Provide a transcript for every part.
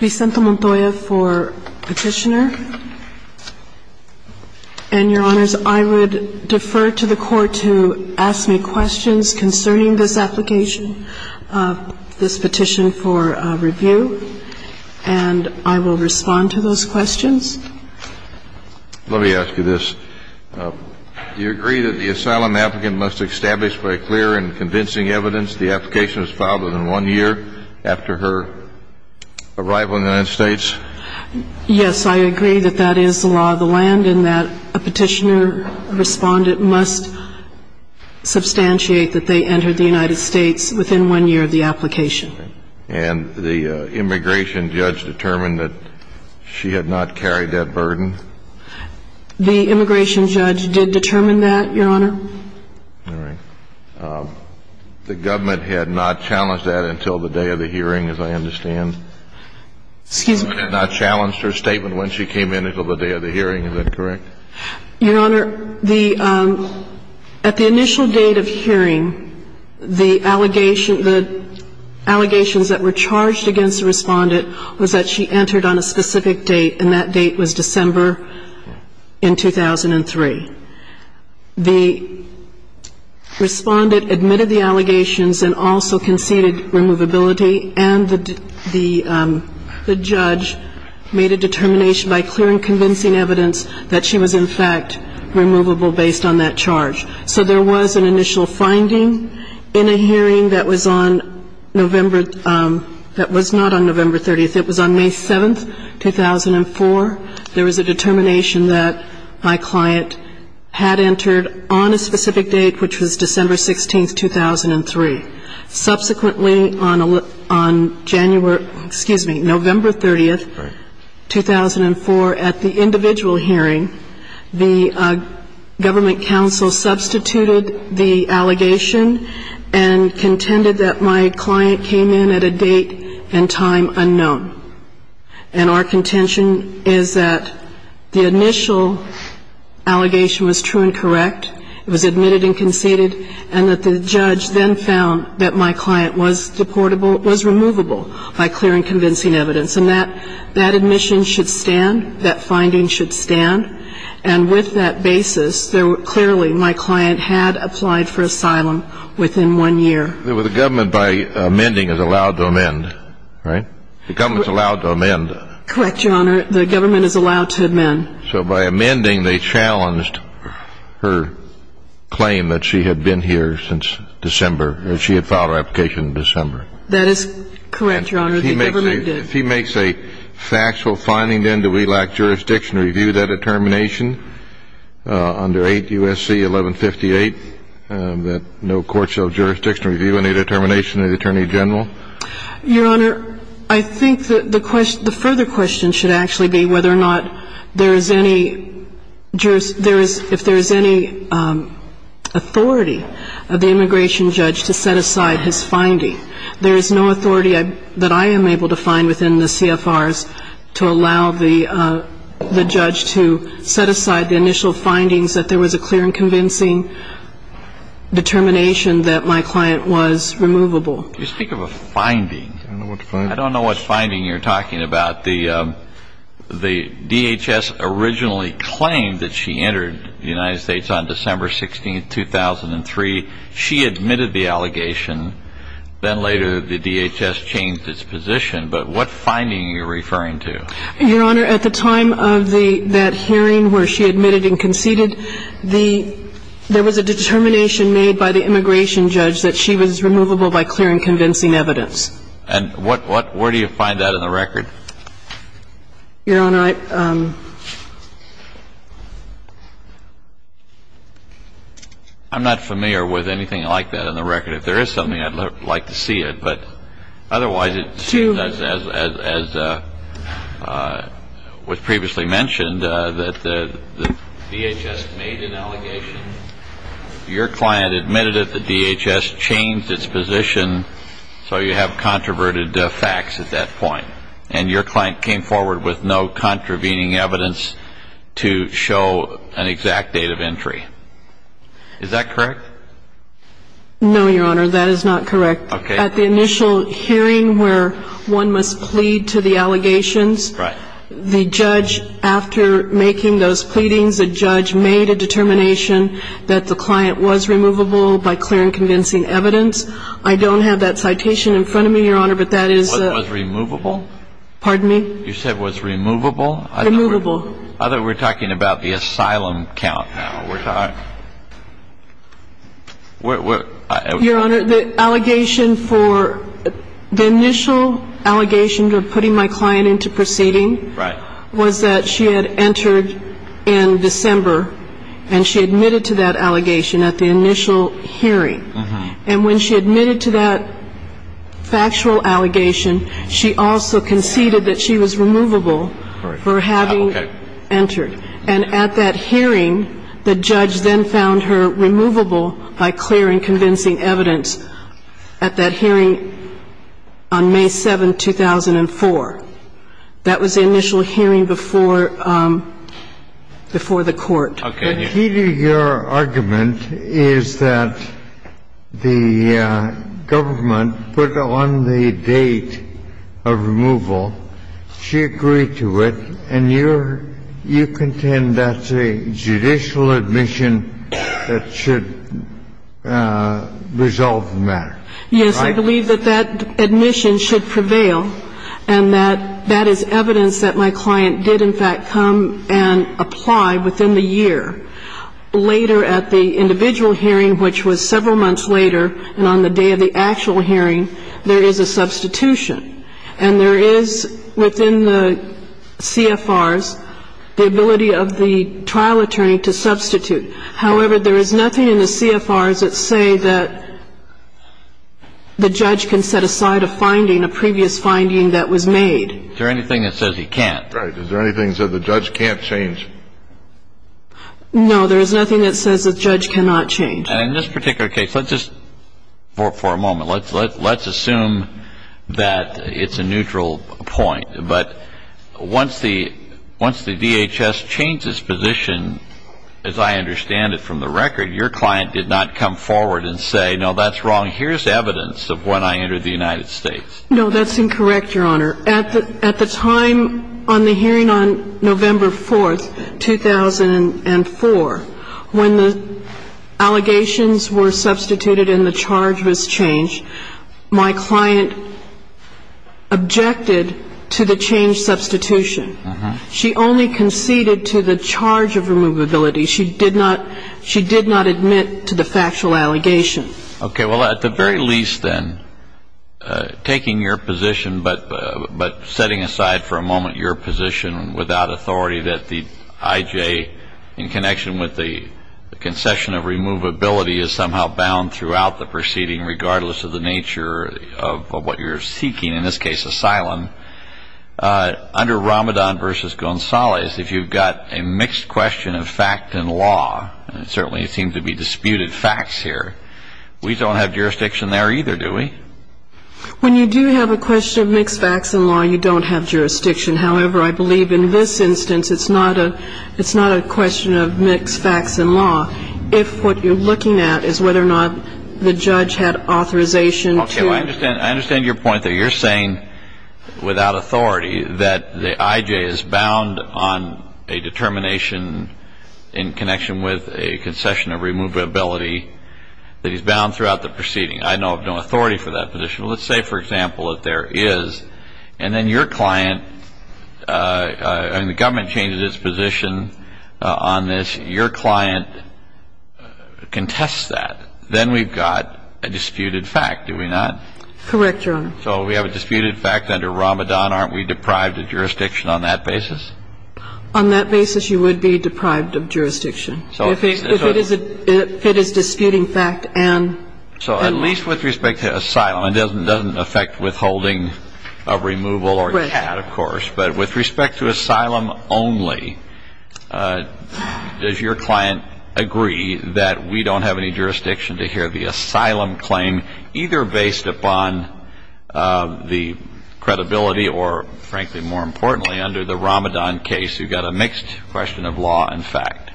Vicente Montoya for petitioner and your honors I would defer to the court to ask me questions concerning this application of this petition for review and I will respond to those questions let me ask you this you agree that the asylum applicant must establish by clear and convincing evidence the application was filed within one year after her arrival in the United States yes I agree that that is the law of the land and that a petitioner respondent must substantiate that they entered the United States within one year of the application and the immigration judge determined that she had not carried that burden the immigration judge did determine that your honor all right the government had not challenged that until the day of the hearing as I understand excuse me not challenged her statement when she came in until the day of the hearing is that correct your honor the at the initial date of hearing the allegation the allegations that were charged against the respondent was that she entered on a specific date and that date was December in 2003 the respondent admitted the allegations and also conceded removability and the judge made a determination by clear and convincing evidence that she was in fact removable based on that charge so there was an initial finding in a hearing that was on November that was not on November 30th it was on May 7th 2004 there was a determination that my client had entered on a specific date which was December 16th 2003 subsequently on a look on January excuse me November 30th 2004 at the individual hearing the government counsel substituted the allegation and contended that my client came in at a date and time unknown and our contention is that the initial allegation was true and correct it was admitted and that the judge then found that my client was deportable was removable by clear and convincing evidence and that that admission should stand that finding should stand and with that basis there were clearly my client had applied for asylum within one year there was a government by amending is allowed to amend right the government's allowed to amend correct your honor the government is allowed to amend so by amending they challenged her claim that she had been here since December she had filed her application in December that is correct your honor he makes a factual finding then do we lack jurisdiction review that determination under 8 USC 1158 that no courts of jurisdiction review any determination of the Attorney General your honor I think that the question the further question should actually be whether or not there is any jurist there is if there is any authority of the immigration judge to set aside his finding there is no authority that I am able to find within the CFRs to allow the the judge to set aside the initial findings that there was a clear and convincing determination that my client was removable you speak of a finding I don't know what finding you're talking about the the DHS originally claimed that she entered the United States on December 16 2003 she admitted the allegation then later the DHS changed its position but what finding you're referring to your honor at the time of the that hearing where she admitted and conceded the there was a determination made by the immigration judge that she was removable by clear and convincing evidence and what what where do you find that in the record your honor I'm not familiar with anything like that in the record if there is something I'd like to see it but otherwise it's you as was previously mentioned that the DHS made an allegation your client admitted at the point and your client came forward with no contravening evidence to show an exact date of entry is that correct no your honor that is not correct okay at the initial hearing where one must plead to the allegations right the judge after making those pleadings a judge made a determination that the client was removable by clear and convincing evidence I don't have that citation in your honor the allegation for the initial allegation to putting my client into proceeding right was that she had entered in December and she admitted to that allegation at the initial hearing and when she admitted to that factual conceded that she was removable for having entered and at that hearing the judge then found her removable by clear and convincing evidence at that hearing on May 7 2004 that was the initial hearing before before the court okay your argument is that the government put on the date of removal she agreed to it and you're you contend that's a judicial admission that should resolve the matter yes I believe that that admission should prevail and that that is evidence that my client did in fact come and apply within the year later at the individual hearing which was several months later and on the day of the actual hearing there is a substitution and there is within the CFRs the ability of the trial attorney to substitute however there is nothing in the CFRs that say that the judge can set aside a finding a previous finding that was made there anything that says he can't right is there anything so the judge can't change no there's nothing that says that judge cannot change in this particular case let's just for a moment let's let's assume that it's a neutral point but once the once the DHS changes position as I understand it from the record your client did not come forward and say no that's wrong here's evidence of when I am on the hearing on November 4th 2004 when the allegations were substituted in the charge was changed my client objected to the change substitution she only conceded to the charge of removability she did not she did not admit to the factual allegation okay well at the very least then taking your position but but setting aside for a moment your position without authority that the IJ in connection with the concession of removability is somehow bound throughout the proceeding regardless of the nature of what you're seeking in this case asylum under Ramadan versus Gonzalez if you've got a mixed question of fact and law and certainly it seems to be disputed facts here we don't have jurisdiction there either do we when you do have a question of mixed facts and law you don't have jurisdiction however I believe in this instance it's not a it's not a question of mixed facts and law if what you're looking at is whether or not the judge had authorization to understand I understand your point that you're saying without authority that the IJ is bound on a determination in connection with a concession of removability that he's bound throughout the proceeding I know of no authority for that position let's say for example that there is and then your client and the government changes its position on this your client contests that then we've got a disputed fact do we not correct your so we have a disputed fact under Ramadan aren't we on that basis you would be deprived of jurisdiction so if it is a it is disputing fact and so at least with respect to asylum it doesn't doesn't affect withholding a removal or a cat of course but with respect to asylum only does your client agree that we don't have any jurisdiction to hear the asylum claim either based upon the credibility or frankly more importantly under the Ramadan case you got a mixed question of law and fact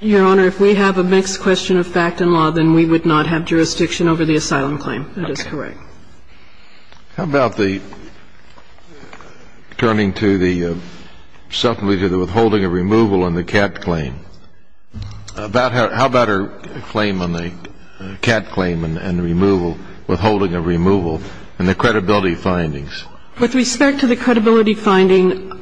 your honor if we have a mixed question of fact and law then we would not have jurisdiction over the asylum claim that is correct how about the turning to the subtly to the withholding a removal on the cat claim about her how about her claim on the cat claim and removal withholding a removal and the credibility findings with respect to the credibility finding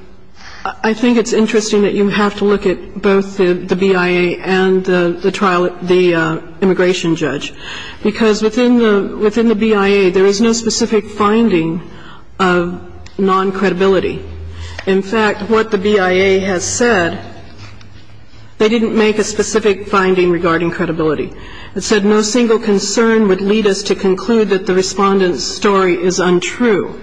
I think it's interesting that you have to look at both the BIA and the trial the immigration judge because within the within the BIA there is no specific finding of non-credibility in fact what the BIA has said they didn't make a specific finding regarding credibility it said no single concern would lead us to conclude that the respondents story is untrue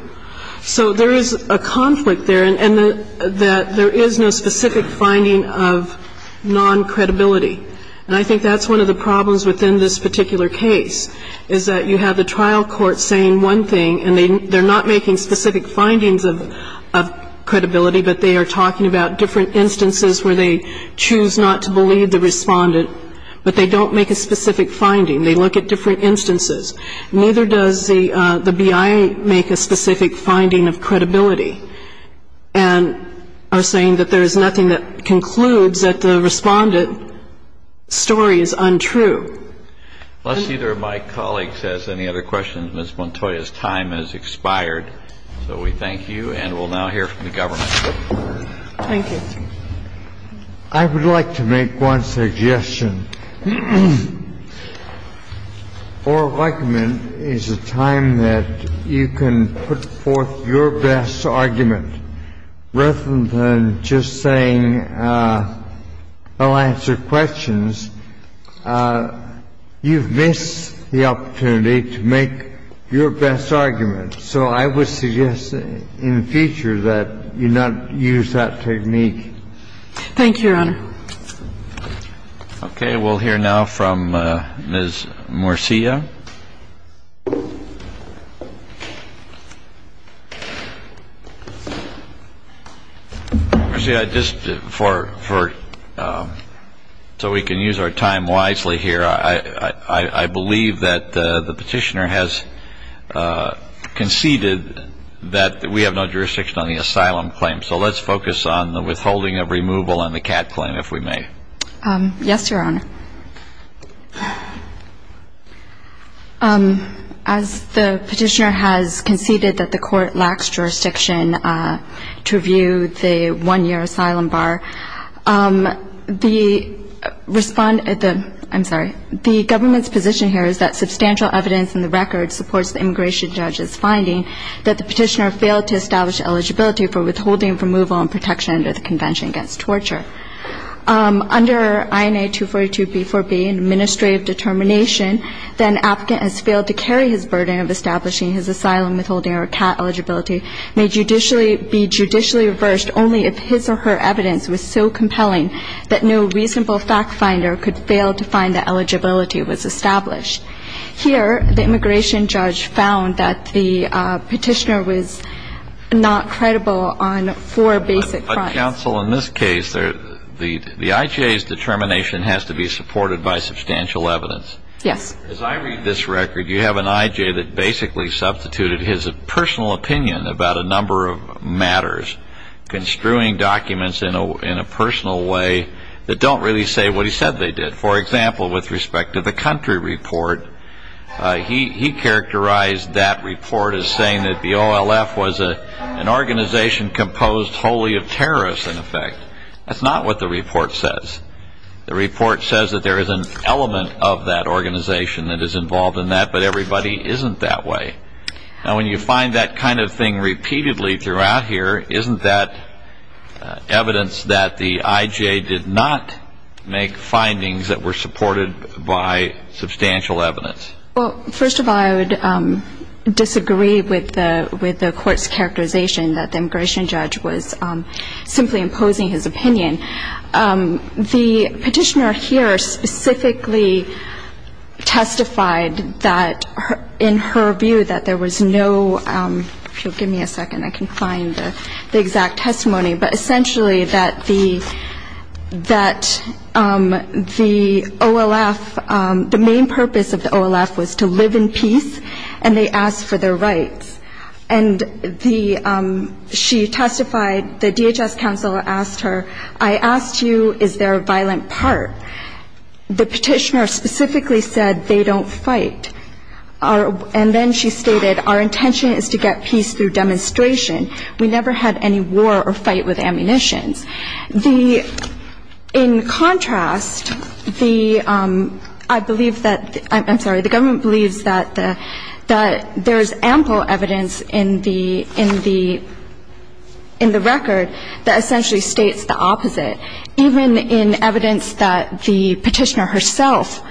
so there is a conflict there and that there is no specific finding of non-credibility and I think that's one of the problems within this particular case is that you have the trial court saying one thing and they're not making specific findings of credibility but they are talking about different instances where they choose not to believe the respondent but they don't make a specific finding they look at different instances neither does the the BIA make a specific finding of credibility and are saying that there is nothing that concludes that the respondent story is untrue unless either of my colleagues has any other questions miss Montoya's time has expired so we thank you and we'll now hear from counsel further and that would be forgive me I have another question oral argument is a time that you can put forth your best argument rather than just saying we'll answer questions you've missed the opportunity to make your best argument so I would suggest that in the future you not use that technique thank you your honor okay we'll hear now from Ms. Murcia see I just for so we can use our time wisely here I I believe that the petitioner has conceded that we have no jurisdiction on the asylum claim so let's focus on the withholding of removal and the cat claim if we may yes your honor as the petitioner has conceded that the court lacks jurisdiction to review the one-year asylum bar the respond at the I'm sorry the government's position here is that substantial evidence in the record supports the immigration judge's finding that the petitioner failed to establish eligibility for withholding removal and protection of the convention against torture under INA 242 B4B administrative determination that an applicant has failed to carry his burden of establishing his asylum withholding or cat eligibility may judicially be judicially reversed only if his or her evidence was so compelling that no reasonable fact finder could fail to find that eligibility was established here the immigration judge found that the petitioner was not credible on four basic counsel in this case there the the IJ's determination has to be supported by substantial evidence yes as I read this record you have an IJ that basically substituted his personal opinion about a number of matters construing documents in a in a personal way that don't really say what he said they did for example with respect to the country report he characterized that the OLF was a an organization composed wholly of terrorists in effect that's not what the report says the report says that there is an element of that organization that is involved in that but everybody isn't that way now when you find that kind of thing repeatedly throughout here isn't that evidence that the IJ did not make findings that were supported by substantial evidence well first of all I would disagree with the with the courts characterization that the immigration judge was simply imposing his opinion the petitioner here specifically testified that in her view that there was no give me a second I can find the exact testimony but essentially that the that the OLF the main purpose of the OLF was to live in peace and they asked for their rights and the she testified the DHS counselor asked her I asked you is there a violent part the petitioner specifically said they don't fight our and then she stated our intention is to get peace through demonstration we never had any war or I'm sorry the government believes that that there's ample evidence in the in the in the record that essentially states the opposite even in evidence that the petitioner herself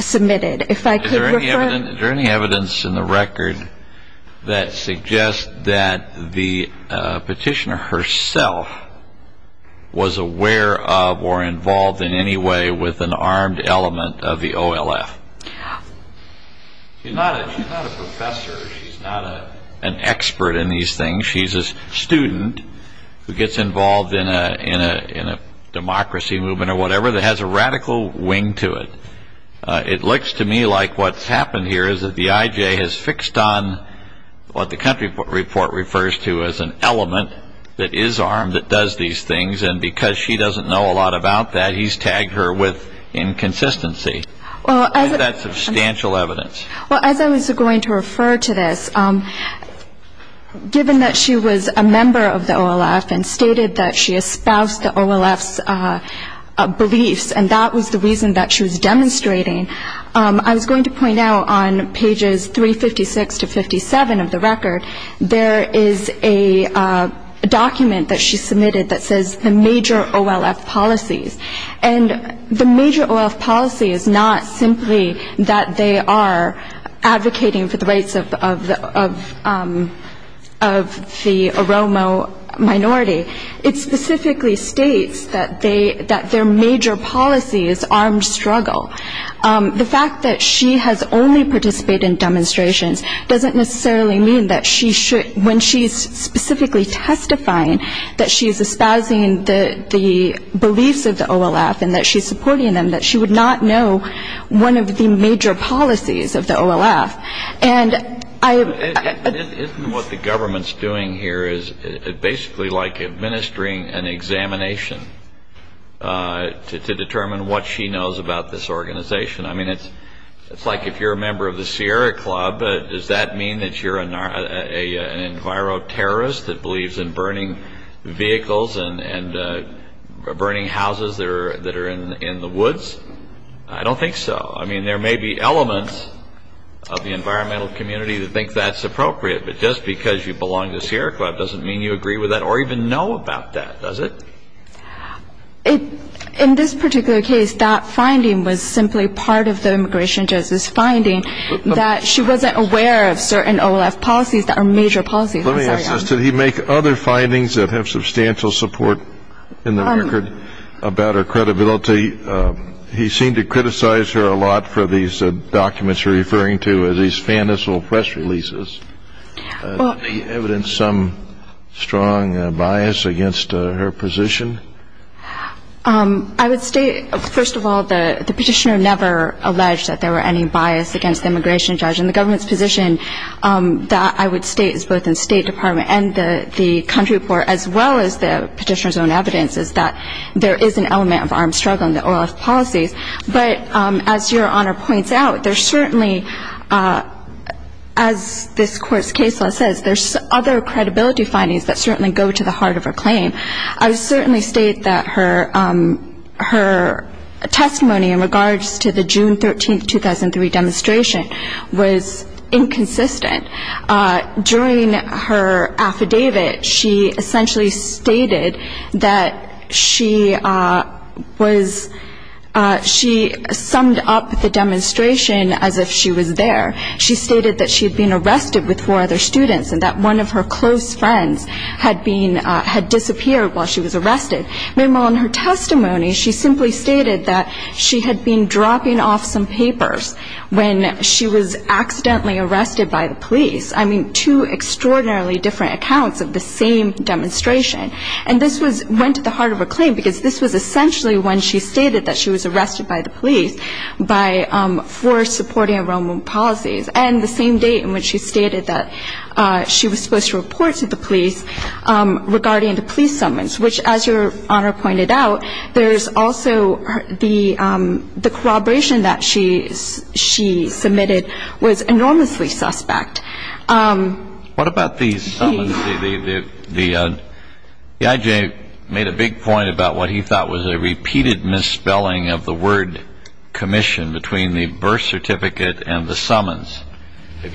submitted if I could there any evidence in the record that suggests that the petitioner herself was aware of or involved in any way with an armed element of the OLF an expert in these things she's a student who gets involved in a in a in a democracy movement or whatever that has a radical wing to it it looks to me like what's happened here is that the IJ has fixed on what the country report refers to as an element that is armed that does these things and because she doesn't know a lot about that he's tagged her with inconsistency substantial evidence well as I was going to refer to this given that she was a member of the OLF and stated that she espoused the OLF beliefs and that was the reason that she was demonstrating I was going to point out on pages 356 to 57 of the policies and the major policy is not simply that they are advocating for the rates of the aroma minority it specifically states that they that their major policy is armed struggle the fact that she has only participated in demonstrations doesn't necessarily mean that she should when she's specifically testifying that she is espousing the the beliefs of the OLF and that she's supporting them that she would not know one of the major policies of the OLF and I what the government's doing here is basically like administering an examination to determine what she knows about this organization I mean it's like if you're a member of the Sierra Club but does that mean that you're a viral terrorist that believes in burning vehicles and burning houses that are that are in the woods I don't think so I mean there may be elements of the environmental community to think that's appropriate but just because you belong to Sierra Club doesn't mean you agree with that or even know about that does it in this particular case that finding was simply part of the immigration justice finding that she wasn't aware of certain OLF policies that are major policies did he make other findings that have substantial support in the record about her credibility he seemed to criticize her a lot for these documents referring to as these fanciful press releases evidence some strong bias against her position I would state first of all the the petitioner never alleged that there were any bias against the immigration judge and the government's position that I would state is both in State Department and the the country report as well as the petitioner's own evidence is that there is an element of armed struggle in the OLF policies but as your honor points out there's certainly as this court's case law says there's other credibility findings that certainly go to the heart of her claim I certainly state that her her testimony in regards to the June 13 2003 demonstration was inconsistent during her affidavit she essentially stated that she was she summed up the demonstration as if she was there she stated that she had been arrested with four other students and that one of her close friends had been had disappeared while she was arrested meanwhile in her testimony she simply stated that she had been dropping off some papers when she was accidentally arrested by the police I mean two extraordinarily different accounts of the same demonstration and this was went to the heart of a claim because this was essentially when she stated that she was arrested by the police by for supporting enrollment policies and the same date in which she stated that she was supposed to report to the police regarding the police summons which as your honor pointed out there's also the the corroboration that she is she submitted was enormously suspect what about these the the the the IJ made a big point about what he thought was a repeated misspelling of the word commission between the birth certificate and the summons was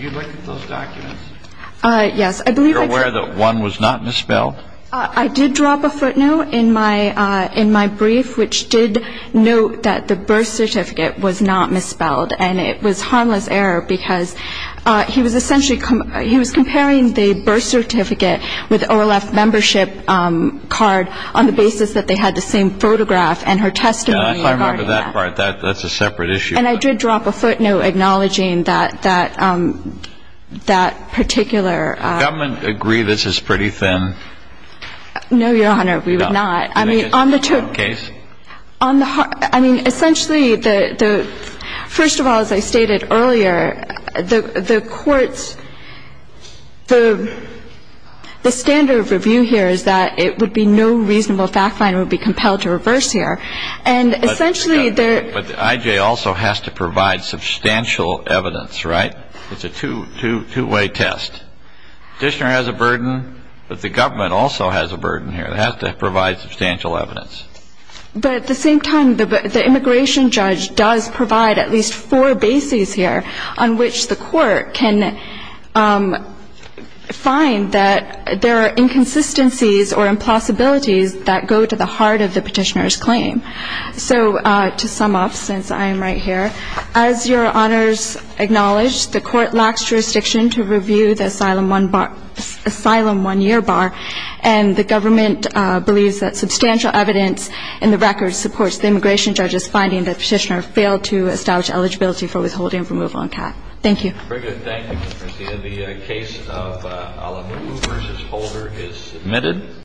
not misspelled I did drop a footnote in my in my brief which did note that the birth certificate was not misspelled and it was harmless error because he was essentially comparing the birth certificate with membership card on the basis that they had the same photograph and her testimony that's a separate issue and I did drop a footnote acknowledging that that that particular government agree this is pretty thin no your honor we would not I mean on the truth case on the heart I mean essentially the first of all as I stated earlier the the courts the the standard of review here is that it would be no reasonable fact line would be compelled to reverse here and essentially there but the IJ also has to provide substantial evidence right it's a two two-way test petitioner has a burden but the government also has a burden here that has to provide substantial evidence but at the same time the immigration judge does provide at least four bases here on which the court can find that there are inconsistencies or impossibilities that go to the heart of the petitioners claim so to sum up since I am right here as your honors acknowledged the court lacks jurisdiction to review the asylum one bar asylum one-year bar and the government believes that substantial evidence in the record supports the immigration judges finding that petitioner failed to establish eligibility for withholding from move on cat thank you